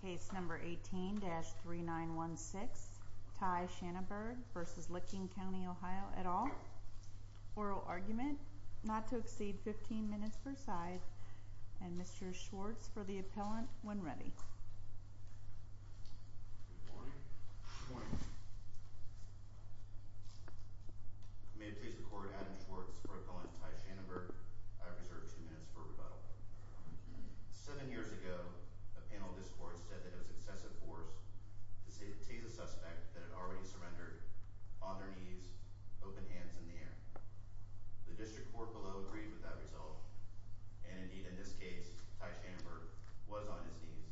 Case number 18-3916 Ty Shanaberg v. Licking County OH at all. Oral argument not to exceed 15 minutes per side and Mr. Schwartz for the appellant when ready. Good morning. Good morning. May it please the court, Adam Schwartz for appellant Ty Shanaberg. I reserve two minutes for rebuttal. Seven years ago, a panel of this court said that it was excessive force to tase a suspect that had already surrendered on their knees, open hands in the air. The district court below agreed with that result, and indeed in this case, Ty Shanaberg was on his knees,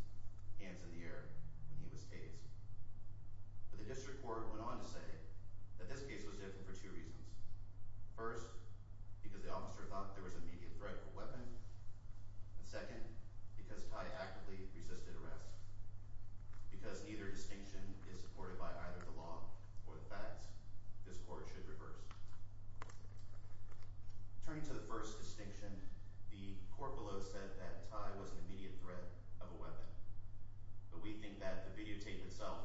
hands in the air, when he was tased. But the district court went on to say that this case was different for two reasons. First, because the officer thought there was immediate threat of a weapon. And second, because Ty actively resisted arrest. Because neither distinction is supported by either the law or the facts, this court should reverse. Turning to the first distinction, the court below said that Ty was an immediate threat of a weapon. But we think that the videotape itself,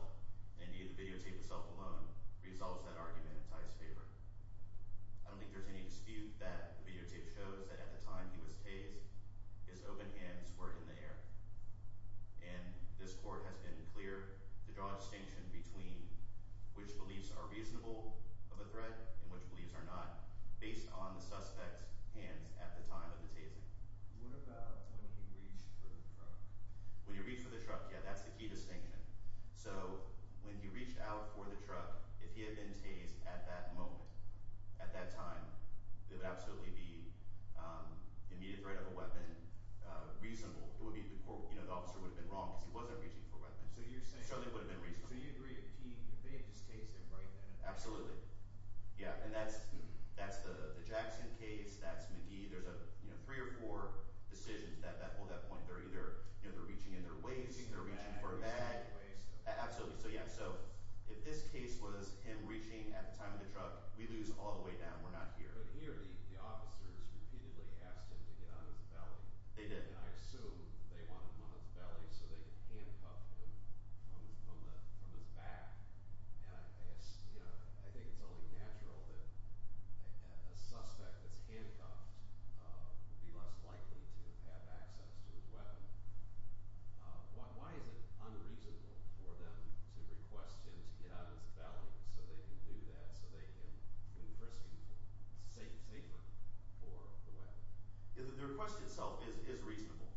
indeed the videotape itself alone, resolves that argument in Ty's favor. I don't think there's any dispute that the videotape shows that at the time he was tased, his open hands were in the air. And this court has been clear to draw a distinction between which beliefs are reasonable of a threat and which beliefs are not, based on the suspect's hands at the time of the tasing. What about when he reached for the truck? When he reached for the truck, yeah, that's the key distinction. So when he reached out for the truck, if he had been tased at that moment, at that time, it would absolutely be immediate threat of a weapon. It would have been reasonable. The officer would have been wrong because he wasn't reaching for a weapon. So you're saying, so you agree that he, they had just tased him right then and there? Absolutely. Yeah, and that's the Jackson case, that's McGee. There's three or four decisions that hold that point. They're either reaching in their waist, they're reaching for a bag. Absolutely, so yeah, so if this case was him reaching at the time of the truck, we lose all the way down. We're not here. But here, the officers repeatedly asked him to get out of his belly, and I assume they wanted him on his belly so they could handcuff him from his back. And I think it's only natural that a suspect that's handcuffed would be less likely to have access to his weapon. Why is it unreasonable for them to request him to get out of his belly so they can do that, so they can enforce him safer for the weapon? The request itself is reasonable.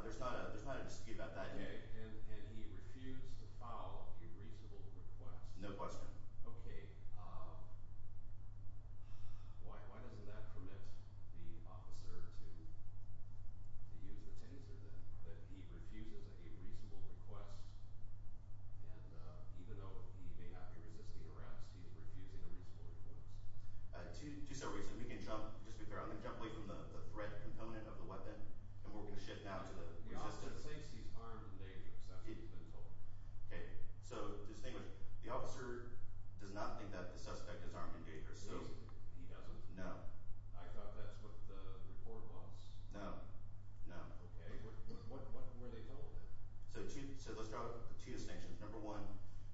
There's not a dispute about that. Okay, and he refused to file a reasonable request? No question. Okay, why doesn't that permit the officer to use the taser, that he refuses a reasonable request? And even though he may not be resisting arrest, he's refusing a reasonable request. Two separate reasons. We can jump, just to be clear, I'm going to jump away from the threat component of the weapon, and we're going to shift now to the resistance. The officer thinks he's armed and dangerous, that's what he's been told. Okay, so the officer does not think that the suspect is armed and dangerous. He doesn't? No. I thought that's what the report was. No, no. Okay, what were they told then? So let's draw two distinctions. Number one,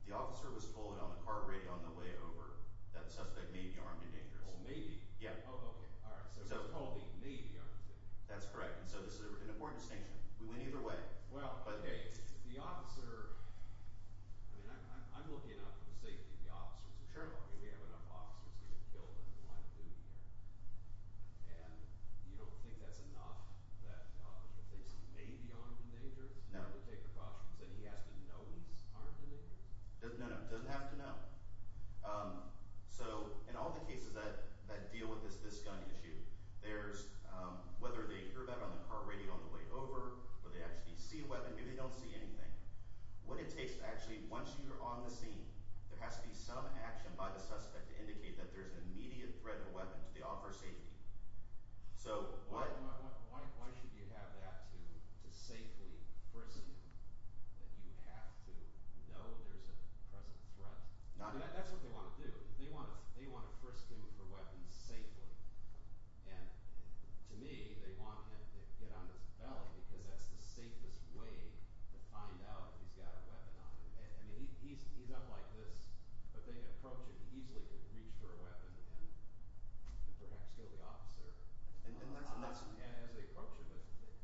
the officer was told on the car radio on the way over that the suspect may be armed and dangerous. May be? Yeah. Oh, okay, so he was told he may be armed and dangerous. That's correct, and so this is an important distinction. We went either way. Okay, well, the officer – I mean, I'm looking out for the safety of the officers. Sure. I mean, we have enough officers that have been killed in the line of duty here, and you don't think that's enough that the officer thinks he may be armed and dangerous? No. To take precautions, that he has to know he's armed and dangerous? No, no, he doesn't have to know. So in all the cases that deal with this gun issue, there's – whether they hear that on the car radio on the way over, whether they actually see a weapon, maybe they don't see anything. What it takes to actually – once you're on the scene, there has to be some action by the suspect to indicate that there's an immediate threat of a weapon to the officer's safety. So what – Why should you have that to safely presume that you have to know there's a present threat? I mean, that's what they want to do. They want to frisk him for weapons safely. And to me, they want him to get on his belly because that's the safest way to find out if he's got a weapon on him. I mean, he's up like this, but they approach him. He easily can reach for a weapon and perhaps kill the officer. And that's – As they approach him.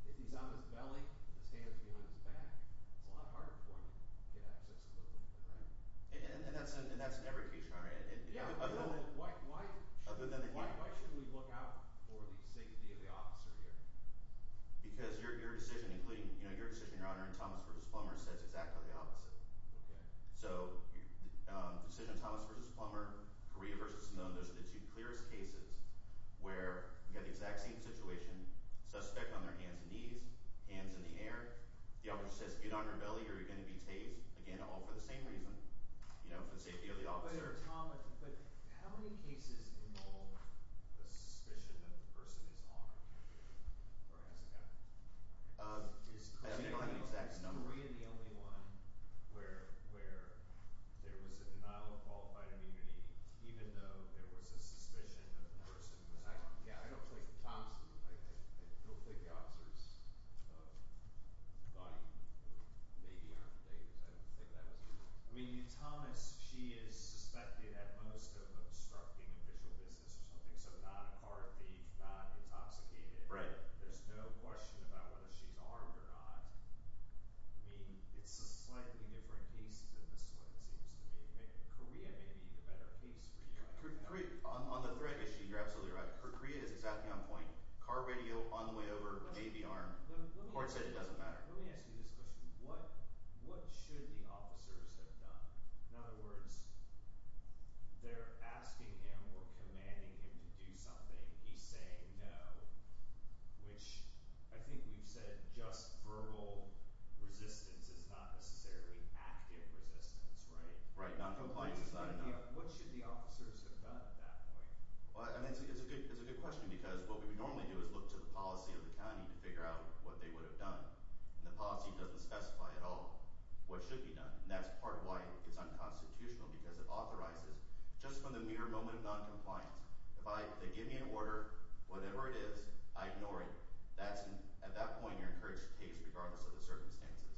But if he's on his belly, his hands behind his back, it's a lot harder for him to get access to those weapons, right? And that's in every case, Your Honor. Yeah. Why should we look out for the safety of the officer here? Because your decision, including – your decision, Your Honor, in Thomas v. Plummer says exactly the opposite. Okay. So the decision of Thomas v. Plummer, Correa v. Simone, those are the two clearest cases where we have the exact same situation. Suspect on their hands and knees, hands in the air. The officer says, get on your belly or you're going to be tased. Again, all for the same reason, you know, for the safety of the officer. But, Your Honor, but how many cases involve the suspicion that the person is armed or has a gun? Is Correa the only one where there was a denial of qualified immunity even though there was a suspicion that the person was armed? Yeah, I don't think Thomas – I don't think the officer's body may be armed today because I don't think that was the case. I mean, in Thomas, she is suspected at most of obstructing official business or something, so not a car thief, not intoxicated. Right. There's no question about whether she's armed or not. I mean, it's a slightly different case than this one, it seems to me. Correa may be the better case for you, Your Honor. On the threat issue, you're absolutely right. Correa is exactly on point. Car, radio, on the way over, may be armed. The court said it doesn't matter. Let me ask you this question. What should the officers have done? In other words, they're asking him or commanding him to do something. He's saying no, which I think we've said just verbal resistance is not necessarily active resistance, right? Right, noncompliance is not enough. What should the officers have done at that point? It's a good question because what we would normally do is look to the policy of the county to figure out what they would have done. And the policy doesn't specify at all what should be done. And that's part of why it's unconstitutional because it authorizes just from the mere moment of noncompliance. If they give me an order, whatever it is, I ignore it. At that point, you're encouraged to case regardless of the circumstances.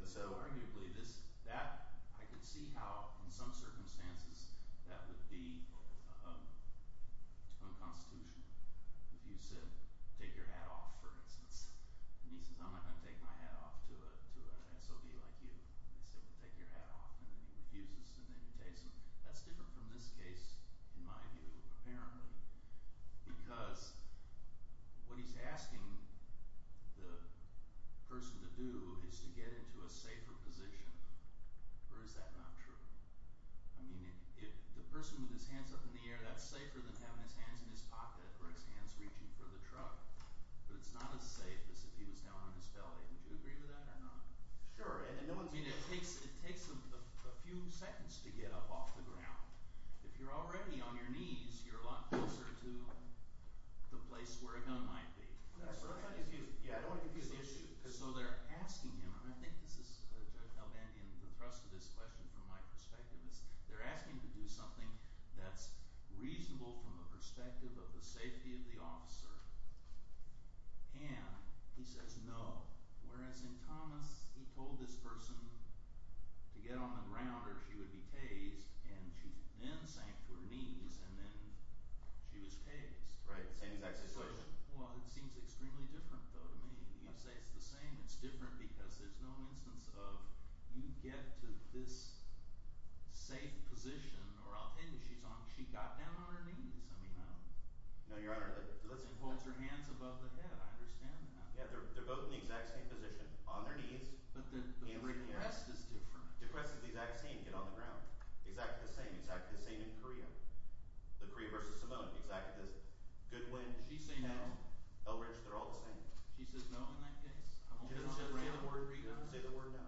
And so arguably this – that – I can see how in some circumstances that would be unconstitutional. If you said take your hat off, for instance, and he says I'm not going to take my hat off to an SOB like you. And they say, well, take your hat off. And then he refuses and then he takes them. That's different from this case in my view apparently because what he's asking the person to do is to get into a safer position. Or is that not true? I mean the person with his hands up in the air, that's safer than having his hands in his pocket or his hands reaching for the truck. But it's not as safe as if he was down on his belly. Would you agree with that or not? Sure. I mean it takes a few seconds to get up off the ground. If you're already on your knees, you're a lot closer to the place where a gun might be. Yeah, I don't want to confuse the issues. So they're asking him – and I think this is, Judge Albandian, the thrust of this question from my perspective is they're asking him to do something that's reasonable from the perspective of the safety of the officer. And he says no. Whereas in Thomas, he told this person to get on the ground or she would be tased and she then sank to her knees and then she was tased. Right, same exact situation. Well, it seems extremely different though to me. You can say it's the same. It's different because there's no instance of you get to this safe position or I'll tell you, she got down on her knees. No, Your Honor. She holds her hands above the head. I understand that. Yeah, they're both in the exact same position, on their knees. But the request is different. The request is the exact same. Get on the ground. Exactly the same. Exactly the same in Korea. The Korea versus Samoa. Exactly the same. Goodwin. She says no. Elridge. They're all the same. She says no in that case. I won't get on the ground. Say the word no. Say the word no.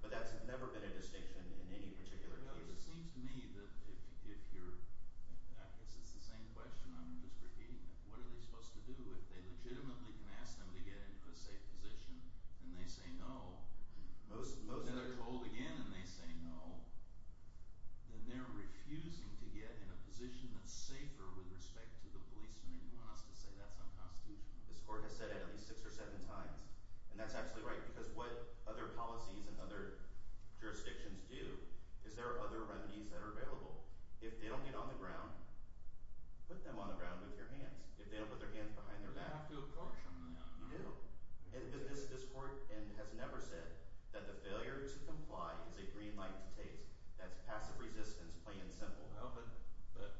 But that's never been a distinction in any particular case. It seems to me that if you're – I guess it's the same question. I'm just repeating it. What are they supposed to do? If they legitimately can ask them to get into a safe position and they say no, then they're told again and they say no, then they're refusing to get in a position that's safer with respect to the policeman and you want us to say that's unconstitutional. This court has said it at least six or seven times. And that's absolutely right because what other policies and other jurisdictions do is there are other remedies that are available. If they don't get on the ground, put them on the ground with your hands. If they don't put their hands behind their back. You have to apportion them. You do. And this court has never said that the failure to comply is a green light to taste. That's passive resistance plain and simple. But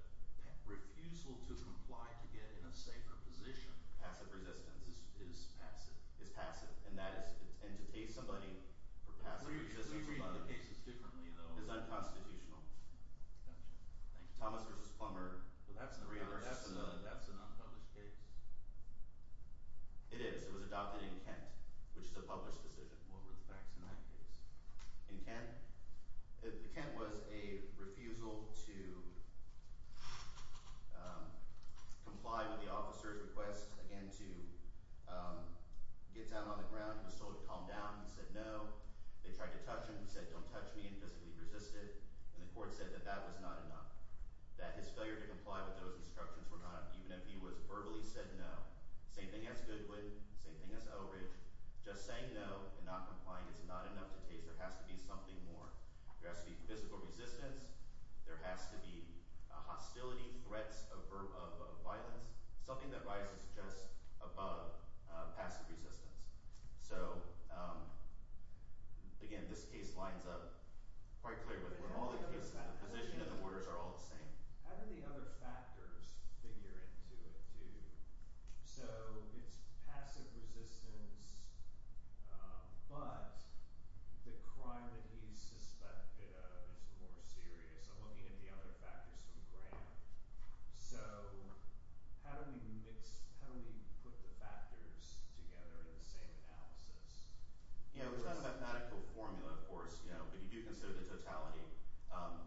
refusal to comply to get in a safer position. Passive resistance. Is passive. Is passive. And that is – and to taste somebody for passive resistance. Can you read the cases differently though? It's unconstitutional. Gotcha. Thank you. Thomas versus Plummer. That's an unpublished case. It is. It was adopted in Kent, which is a published decision. What were the facts in that case? In Kent? Kent was a refusal to comply with the officer's request, again, to get down on the ground. He was told to calm down. He said no. They tried to touch him. He said don't touch me and physically resisted. And the court said that that was not enough. That his failure to comply with those instructions were not – even if he was verbally said no. Same thing as Goodwin. Same thing as Elridge. Just saying no and not complying is not enough to taste. There has to be something more. There has to be physical resistance. There has to be hostility, threats of violence, something that rises just above passive resistance. So, again, this case lines up quite clear with all the cases. The position and the orders are all the same. How do the other factors figure into it too? So it's passive resistance, but the crime that he's suspected of is more serious. I'm looking at the other factors from Grant. So how do we mix – how do we put the factors together in the same analysis? It's not a mathematical formula, of course, but you do consider the totality.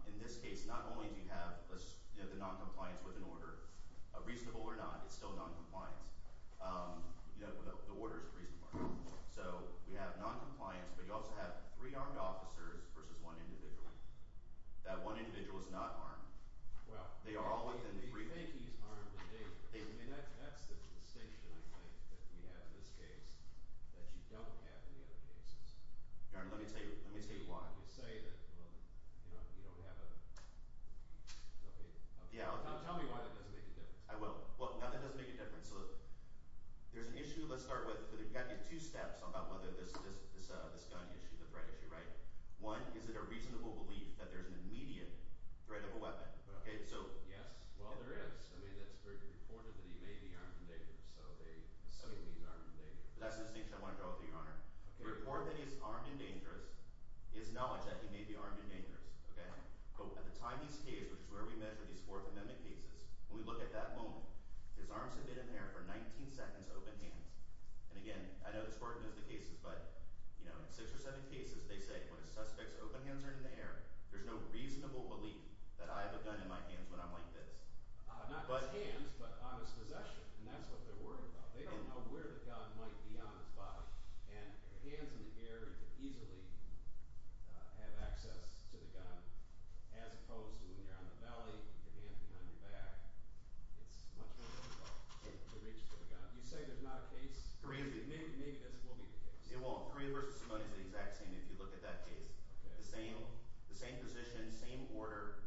In this case, not only do you have the noncompliance with an order, reasonable or not, it's still noncompliance. The order is reasonable. So we have noncompliance, but you also have three armed officers versus one individual. That one individual is not armed. Well, do you think he's armed in danger? That's the distinction, I think, that we have in this case that you don't have in the other cases. Let me tell you why. You say that, well, you don't have a – okay. Tell me why that doesn't make a difference. I will. Well, not that it doesn't make a difference. So there's an issue, let's start with, but you've got to get two steps about whether this gun issue, the threat issue, right? One, is it a reasonable belief that there's an immediate threat of a weapon? Yes. Well, there is. I mean, it's reported that he may be armed and dangerous, so they – some of these aren't in danger. That's the distinction I want to draw to you, Your Honor. The report that he's armed and dangerous is knowledge that he may be armed and dangerous. Okay? But at the time of this case, which is where we measure these Fourth Amendment cases, when we look at that moment, his arms have been in the air for 19 seconds, open hands. And again, I know it's reported in other cases, but in six or seven cases they say when a suspect's open hands are in the air, there's no reasonable belief that I have a gun in my hands when I'm like this. Not his hands, but on his possession, and that's what they're worried about. They don't know where the gun might be on his body, and hands in the air easily have access to the gun, as opposed to when you're out in the valley with your hands behind your back. It's much more difficult to reach for the gun. You say there's not a case? Three of them. Maybe this will be the case. Yeah, well, three versus one is the exact same if you look at that case. Okay. The same position, same order,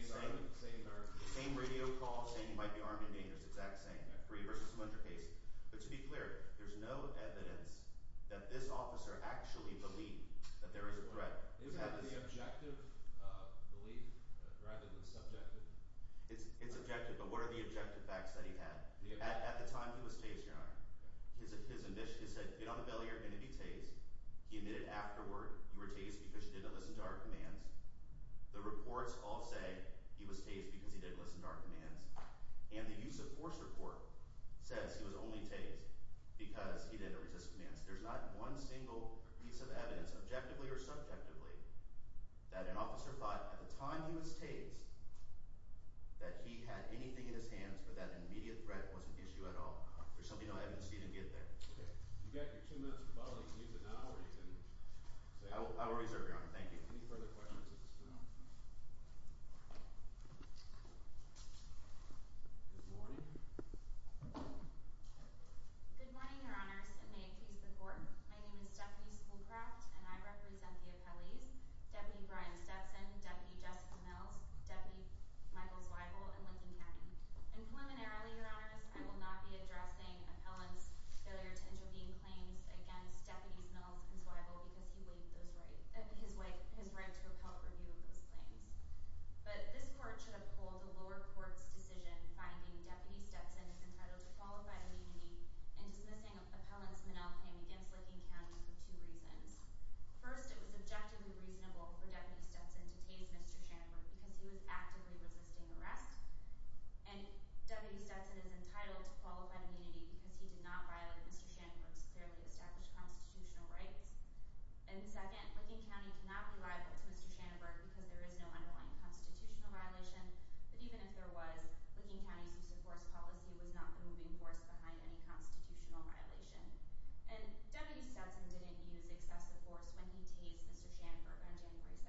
same radio call, saying he might be armed and dangerous, exact same. Three versus one is your case. But to be clear, there's no evidence that this officer actually believed that there was a threat. Isn't that the objective belief rather than subjective? It's objective, but what are the objective facts that he had? At the time he was tased, Your Honor, his admission, he said, get on the belly or you're going to be tased. He admitted afterward you were tased because you didn't listen to our commands. The reports all say he was tased because he didn't listen to our commands. And the use of force report says he was only tased because he didn't resist commands. There's not one single piece of evidence, objectively or subjectively, that an officer thought at the time he was tased that he had anything in his hands or that an immediate threat wasn't the issue at all. There's simply no evidence to even get there. Okay. You've got your two minutes to follow these news anomalies. I will reserve, Your Honor. Thank you. Any further questions at this time? Good morning. Good morning, Your Honors, and may it please the Court. My name is Stephanie Schoolcraft, and I represent the appellees, Deputy Brian Stetson, Deputy Jessica Mills, Deputy Michael Zweigel, and Lincoln Cannon. And preliminarily, Your Honors, I will not be addressing appellants' failure to intervene claims against Deputies Mills and Zweigel because he waived his right to a public review of those claims. But this Court should uphold the lower court's decision, finding Deputy Stetson is entitled to qualified immunity in dismissing an appellant's manel claim against Lincoln County for two reasons. First, it was objectively reasonable for Deputy Stetson to tase Mr. Schanenberg because he was actively resisting arrest, and Deputy Stetson is entitled to qualified immunity because he did not violate Mr. Schanenberg's clearly established constitutional rights. And second, Lincoln County cannot be liable to Mr. Schanenberg because there is no underlying constitutional violation, but even if there was, Lincoln County's use-of-force policy was not the moving force behind any constitutional violation. And Deputy Stetson didn't use excessive force when he tased Mr. Schanenberg on January 2,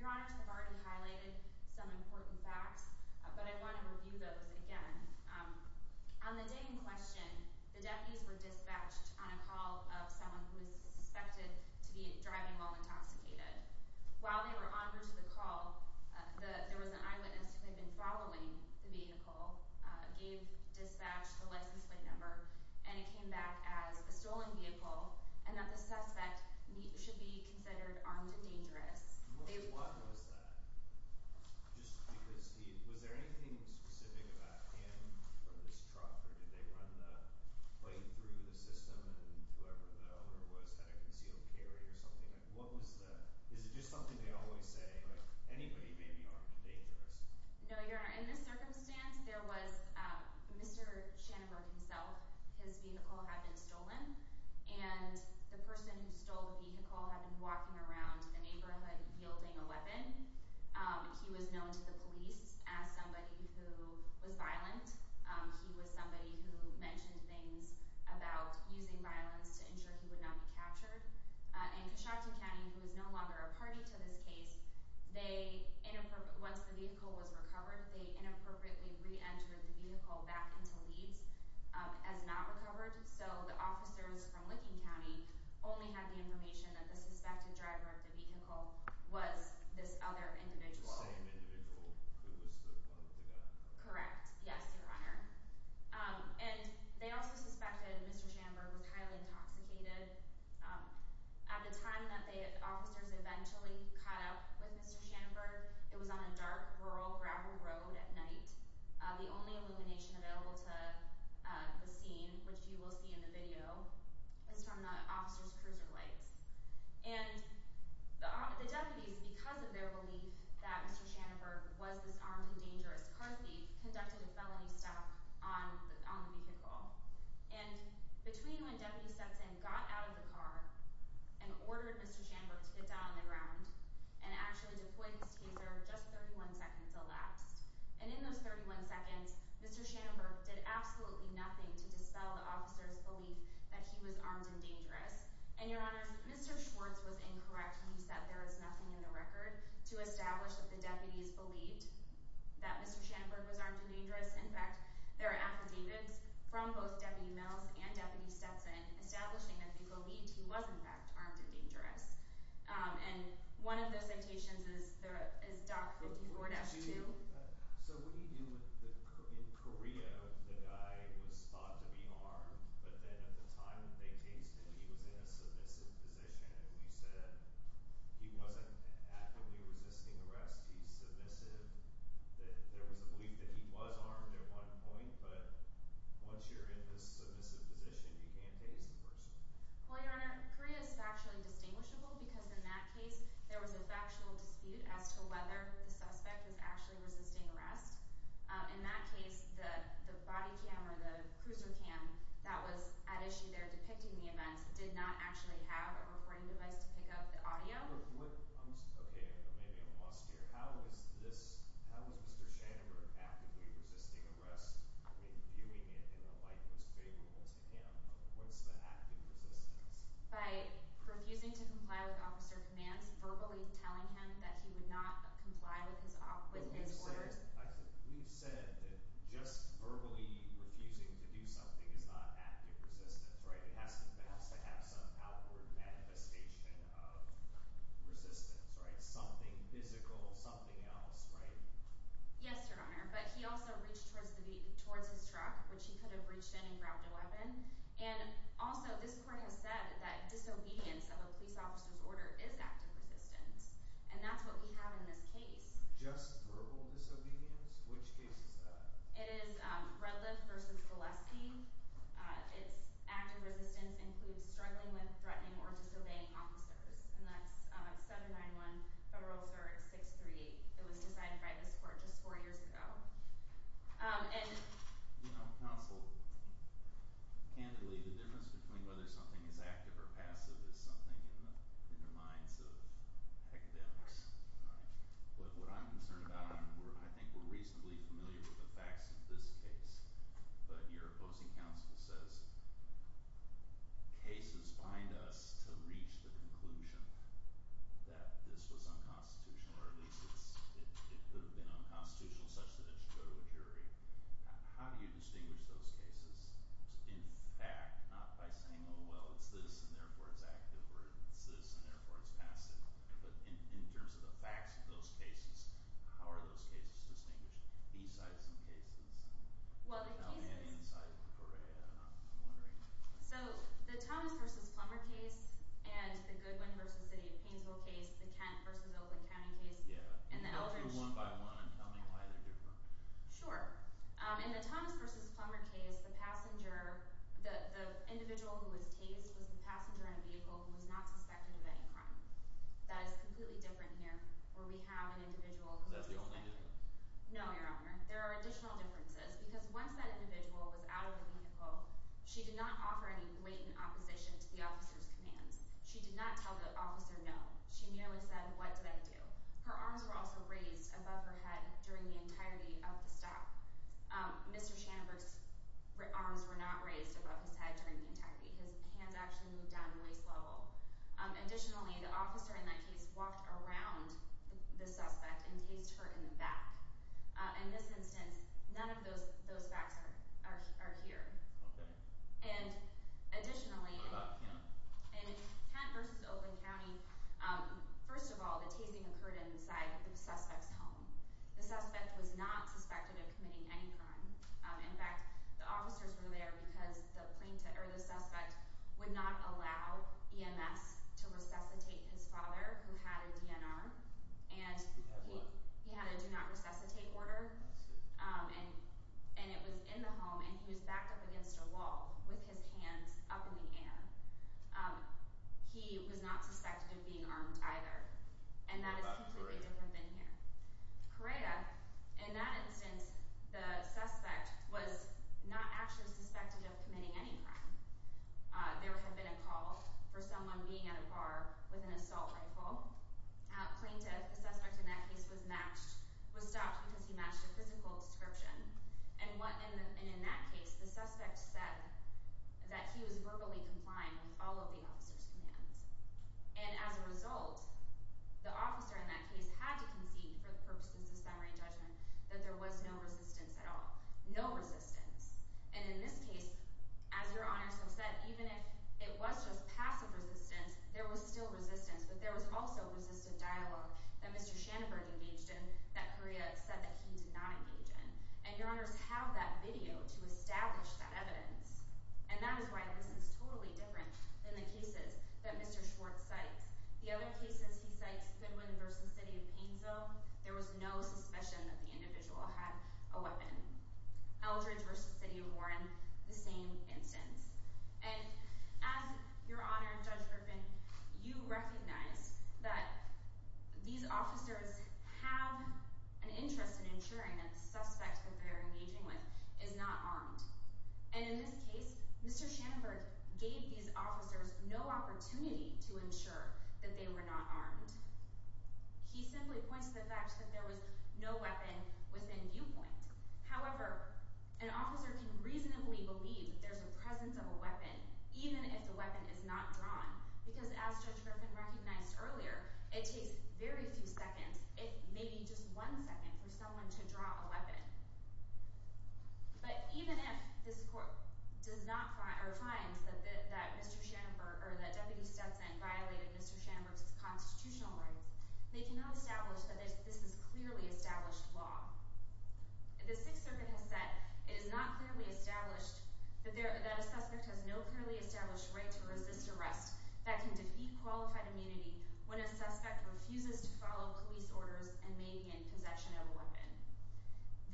2015. Your Honors have already highlighted some important facts, but I want to review those again. On the day in question, the deputies were dispatched on a call of someone who was suspected to be driving while intoxicated. While they were onward to the call, there was an eyewitness who had been following the vehicle, gave dispatch the license plate number, and it came back as a stolen vehicle, and that the suspect should be considered armed and dangerous. What was that? Just because he—was there anything specific about him or this truck, or did they run the plate through the system and whoever the owner was had a concealed carry or something? What was the—is it just something they always say, like, anybody may be armed and dangerous? No, Your Honor. In this circumstance, there was Mr. Schanenberg himself. His vehicle had been stolen, and the person who stole the vehicle had been walking around the neighborhood yielding a weapon. He was known to the police as somebody who was violent. He was somebody who mentioned things about using violence to ensure he would not be captured. And Cushockton County, who is no longer a party to this case, they—once the vehicle was recovered, they inappropriately reentered the vehicle back into Leeds as not recovered, so the officers from Licking County only had the information that the suspected driver of the vehicle was this other individual. The same individual who was the one who did that? Correct. Yes, Your Honor. And they also suspected Mr. Schanenberg was highly intoxicated. At the time that the officers eventually caught up with Mr. Schanenberg, it was on a dark, rural gravel road at night. The only illumination available to the scene, which you will see in the video, is from the officers' cruiser lights. And the deputies, because of their belief that Mr. Schanenberg was this armed and dangerous car thief, conducted a felony stalk on the vehicle. And between when deputies stepped in, got out of the car, and ordered Mr. Schanenberg to get down on the ground and actually deploy his taser, just 31 seconds elapsed. And in those 31 seconds, Mr. Schanenberg did absolutely nothing to dispel the officers' belief that he was armed and dangerous. And, Your Honor, Mr. Schwartz was incorrect when he said there is nothing in the record to establish that the deputies believed that Mr. Schanenberg was armed and dangerous. In fact, there are affidavits from both Deputy Mills and Deputy Stetson establishing that they believed he was, in fact, armed and dangerous. And one of those citations is Doc 54-2. So what do you do when, in Korea, the guy was thought to be armed, but then at the time that they tased him, he was in a submissive position, and we said he wasn't actively resisting arrest, he's submissive. There was a belief that he was armed at one point, but once you're in this submissive position, you can't tase the person. Well, Your Honor, Korea is factually distinguishable because in that case, there was a factual dispute as to whether the suspect was actually resisting arrest. In that case, the body cam or the cruiser cam that was at issue there depicting the event did not actually have a recording device to pick up the audio. Okay, maybe I'm lost here. How was Mr. Schanenberg actively resisting arrest? I mean, viewing it in a light that was favorable to him. What's the active resistance? By refusing to comply with officer commands, verbally telling him that he would not comply with his orders. We've said that just verbally refusing to do something is not active resistance, right? It has to have some outward manifestation of resistance, right? Something physical, something else, right? Yes, Your Honor, but he also reached towards his truck, which he could have reached in and grabbed a weapon. And also, this court has said that disobedience of a police officer's order is active resistance, and that's what we have in this case. Just verbal disobedience? Which case is that? It is Redliff v. Valesky. Its active resistance includes struggling with, threatening, or disobeying officers, and that's 791-Federal-Cert-638. It was decided by this court just four years ago. And, you know, counsel, candidly, the difference between whether something is active or passive is something in the minds of academics, right? But what I'm concerned about, and I think we're reasonably familiar with the facts of this case, but your opposing counsel says cases bind us to reach the conclusion that this was unconstitutional, or at least it could have been unconstitutional such that it should go to a jury. How do you distinguish those cases? In fact, not by saying, oh, well, it's this, and therefore it's active, or it's this, and therefore it's passive. But in terms of the facts of those cases, how are those cases distinguished? B-sides and cases. Well, the cases— Tell me any insight, Correa, I'm wondering. So the Thomas v. Plummer case, and the Goodwin v. City of Painesville case, the Kent v. Oakland County case, and the Eldridge— Yeah, and I'll do them one by one and tell me why they're different. Sure. In the Thomas v. Plummer case, the individual who was tased was the passenger in a vehicle who was not suspected of any crime. That is completely different here, where we have an individual who was— Is that the only difference? No, Your Honor. There are additional differences, because once that individual was out of the vehicle, she did not offer any blatant opposition to the officer's commands. She did not tell the officer no. She merely said, what did I do? Her arms were also raised above her head during the entirety of the stop. Mr. Shandler's arms were not raised above his head during the entirety. His hands actually moved down to waist level. Additionally, the officer in that case walked around the suspect and tased her in the back. In this instance, none of those facts are here. Okay. Additionally, in Kent v. Oakland County, first of all, the tasing occurred inside the suspect's home. The suspect was not suspected of committing any crime. In fact, the officers were there because the suspect would not allow EMS to resuscitate his father, who had a DNR, and he had a do-not-resuscitate order. And it was in the home, and he was backed up against a wall with his hands up in the air. He was not suspected of being armed either, and that is completely different than here. Coretta, in that instance, the suspect was not actually suspected of committing any crime. There had been a call for someone being at a bar with an assault rifle. A plaintiff, the suspect in that case, was stopped because he matched a physical description. And in that case, the suspect said that he was verbally complying with all of the officer's commands. And as a result, the officer in that case had to concede, for the purposes of summary judgment, that there was no resistance at all. No resistance. And in this case, as Your Honors have said, even if it was just passive resistance, there was still resistance. But there was also resistive dialogue that Mr. Schanenberg engaged in that Coretta said that he did not engage in. And Your Honors have that video to establish that evidence. And that is why this is totally different than the cases that Mr. Schwartz cites. The other cases he cites, Goodwin v. City of Painesville, there was no suspicion that the individual had a weapon. Eldridge v. City of Warren, the same instance. And as Your Honor, Judge Griffin, you recognize that these officers have an interest in ensuring that the suspect that they're engaging with is not armed. And in this case, Mr. Schanenberg gave these officers no opportunity to ensure that they were not armed. He simply points to the fact that there was no weapon within viewpoint. However, an officer can reasonably believe that there's a presence of a weapon, even if the weapon is not drawn. Because as Judge Griffin recognized earlier, it takes very few seconds, if maybe just one second, for someone to draw a weapon. But even if this court does not find or finds that Mr. Schanenberg or that Deputy Stetson violated Mr. Schanenberg's constitutional rights, they cannot establish that this is clearly established law. The Sixth Circuit has said it is not clearly established that a suspect has no clearly established right to resist arrest that can defeat qualified immunity when a suspect refuses to follow police orders and may be in possession of a weapon.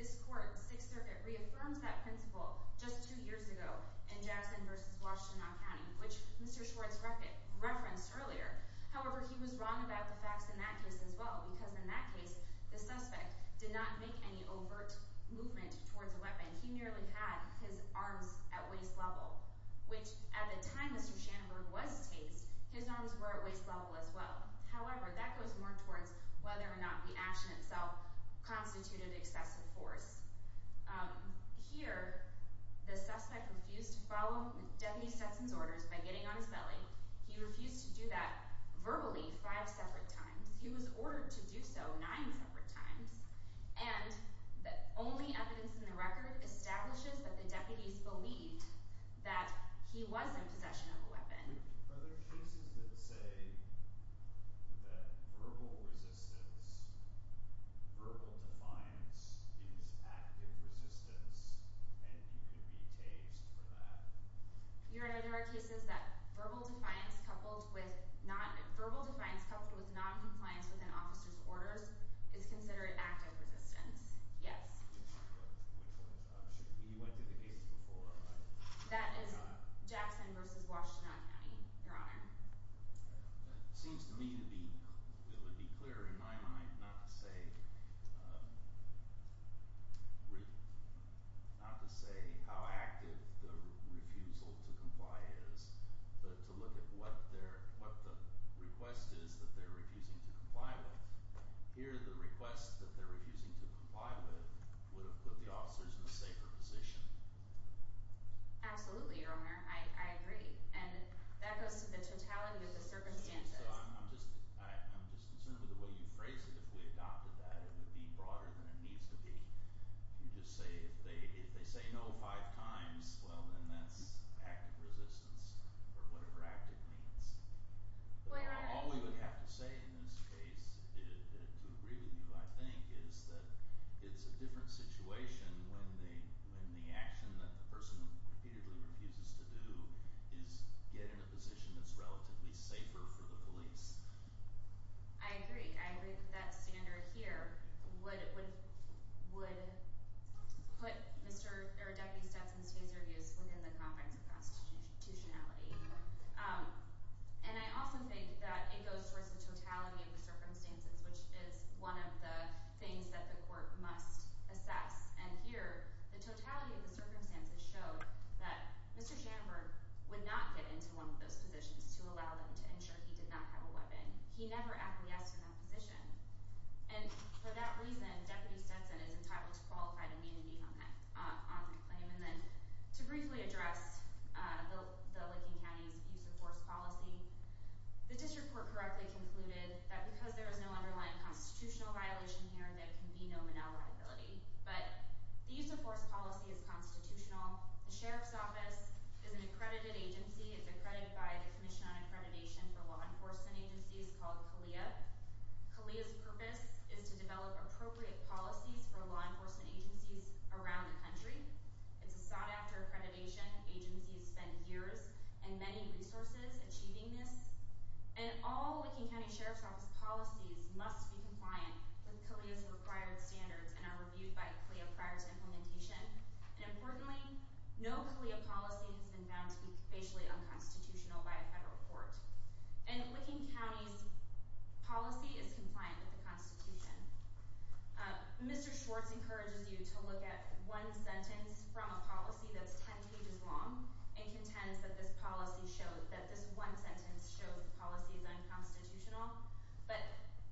This court, Sixth Circuit, reaffirms that principle just two years ago in Jackson v. Washtenaw County, which Mr. Schwartz referenced earlier. However, he was wrong about the facts in that case as well, because in that case, the suspect did not make any overt movement towards a weapon. He merely had his arms at waist level, which at the time Mr. Schanenberg was tased, his arms were at waist level as well. However, that goes more towards whether or not the action itself constituted excessive force. Here, the suspect refused to follow Deputy Stetson's orders by getting on his belly. He refused to do that verbally five separate times. He was ordered to do so nine separate times. And the only evidence in the record establishes that the deputies believed that he was in possession of a weapon. Are there cases that say that verbal resistance, verbal defiance, is active resistance and he could be tased for that? Your Honor, there are cases that verbal defiance coupled with noncompliance within officer's orders is considered active resistance. Yes. Which one? You went to the case before. That is Jackson v. Washtenaw County, Your Honor. It seems to me to be – it would be clearer in my mind not to say – not to say how active the refusal to comply is, but to look at what their – what the request is that they're refusing to comply with. Here, the request that they're refusing to comply with would have put the officers in a safer position. Absolutely, Your Honor. I agree. And that goes to the totality of the circumstances. So I'm just – I'm just concerned with the way you phrase it. If we adopted that, it would be broader than it needs to be. If you just say – if they say no five times, well, then that's active resistance or whatever active means. Well, Your Honor – All we would have to say in this case to agree with you, I think, is that it's a different situation when the action that the person repeatedly refuses to do is get in a position that's relatively safer for the police. I agree. I agree that that standard here would put Mr. – or Deputy Stetson's case reviews within the confines of constitutionality. And I also think that it goes towards the totality of the circumstances, which is one of the things that the court must assess. And here, the totality of the circumstances show that Mr. Jandberg would not get into one of those positions to allow them to ensure he did not have a weapon. He never acquiesced in that position. And for that reason, Deputy Stetson is entitled to qualified immunity on that claim. And then to briefly address the Licking County's use-of-force policy, the district court correctly concluded that because there is no underlying constitutional violation here, there can be no manel liability. But the use-of-force policy is constitutional. The sheriff's office is an accredited agency. It's accredited by the Commission on Accreditation for Law Enforcement Agencies called CALEA. CALEA's purpose is to develop appropriate policies for law enforcement agencies around the country. It's a sought-after accreditation. Agencies spend years and many resources achieving this. And all Licking County Sheriff's Office policies must be compliant with CALEA's required standards and are reviewed by CALEA prior to implementation. And importantly, no CALEA policy has been found to be facially unconstitutional by a federal court. And Licking County's policy is compliant with the Constitution. Mr. Schwartz encourages you to look at one sentence from a policy that's 10 pages long and contends that this one sentence shows the policy is unconstitutional. But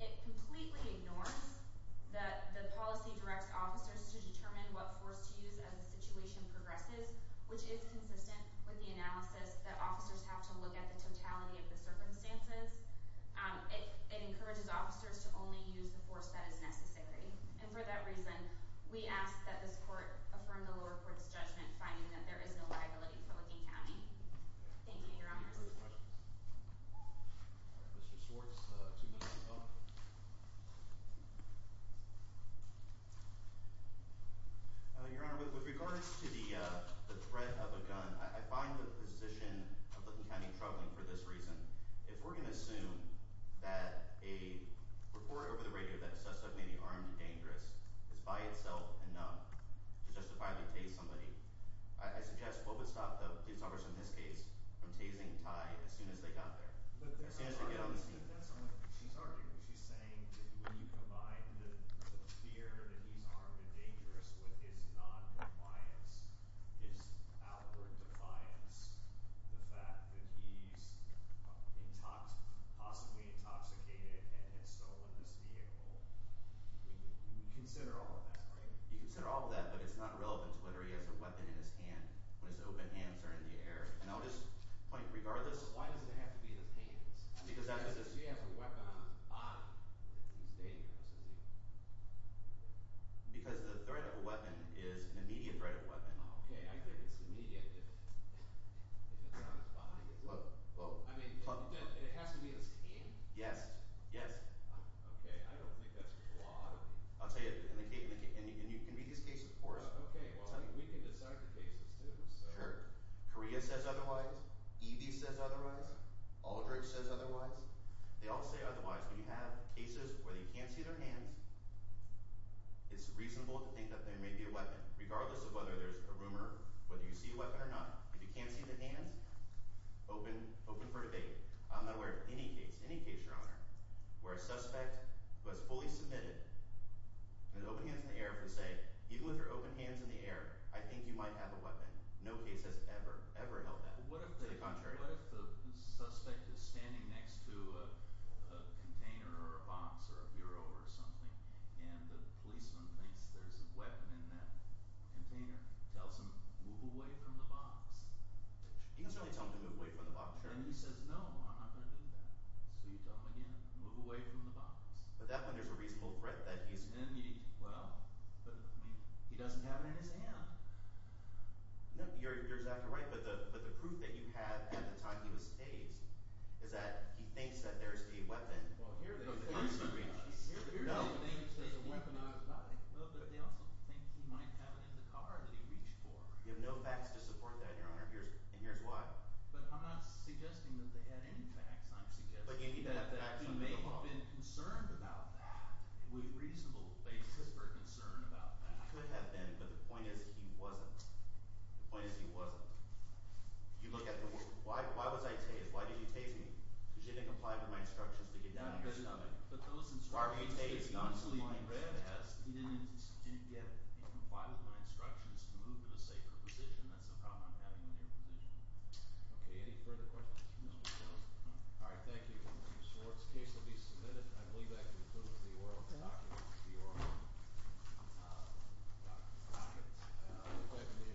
it completely ignores that the policy directs officers to determine what force to use as the situation progresses, which is consistent with the analysis that officers have to look at the totality of the circumstances. It encourages officers to only use the force that is necessary. And for that reason, we ask that this court affirm the lower court's judgment, finding that there is no liability for Licking County. Thank you, Your Honors. Any further questions? Mr. Schwartz, two minutes to go. Your Honor, with regards to the threat of a gun, I find the position of Licking County troubling for this reason. If we're going to assume that a report over the radio that a suspect may be armed and dangerous is by itself enough to justify the tase of somebody, I suggest what would stop the police officers in this case from tasing Ty as soon as they got there, as soon as they get on the scene? She's arguing – she's saying that when you combine the fear that he's armed and dangerous with his noncompliance, his outward defiance, the fact that he's possibly intoxicated and had stolen this vehicle, we consider all of that, right? You consider all of that, but it's not relevant to whether he has a weapon in his hand when his open hands are in the air. And I'll just point – regardless – Why does it have to be his hands? Because he has a weapon on his body. He's dangerous, isn't he? Because the threat of a weapon is an immediate threat of a weapon. Okay. I think it's immediate if it's on his body. Look – look – I mean, it has to be his hand. Yes. Yes. Okay. I don't think that's the law. I'll tell you – and you can read these cases for us. Okay. Well, we can decide the cases too. Sure. Korea says otherwise. EV says otherwise. Aldrich says otherwise. They all say otherwise. When you have cases where you can't see their hands, it's reasonable to think that there may be a weapon, regardless of whether there's a rumor, whether you see a weapon or not. If you can't see the hands, open for debate. I'm not aware of any case – any case, Your Honor – where a suspect was fully submitted and had open hands in the air for say – even with your open hands in the air, I think you might have a weapon. No case has ever, ever held that. What if the – To the contrary. What if the suspect is standing next to a container or a box or a bureau or something, and the policeman thinks there's a weapon in that container, tells him, move away from the box? You can certainly tell him to move away from the box. And he says, no, I'm not going to do that. So you tell him again, move away from the box. But that way there's a reasonable threat that he's – Well, but – He doesn't have it in his hand. No, you're exactly right. But the proof that you have at the time he was staged is that he thinks that there's a weapon. Well, here they – No. Here they think there's a weapon in his body. No, but they also think he might have it in the car that he reached for. You have no facts to support that, Your Honor. And here's why. But I'm not suggesting that they had any facts. I'm suggesting that he may have been concerned about that, with reasonable basis for concern about that. He could have been. But the point is he wasn't. The point is he wasn't. You look at the – Why was I tased? Why did you tase me? Because you didn't comply with my instructions to get down to your stomach. But those instructions – Why were you tased? You didn't comply with my instructions to move to a safer position. That's the problem I'm having in your position. Okay. Any further questions? No. All right. Thank you, Mr. Swartz. The case will be submitted. I believe that concludes the oral –– documents. The oral documents. Thank you. Thank you.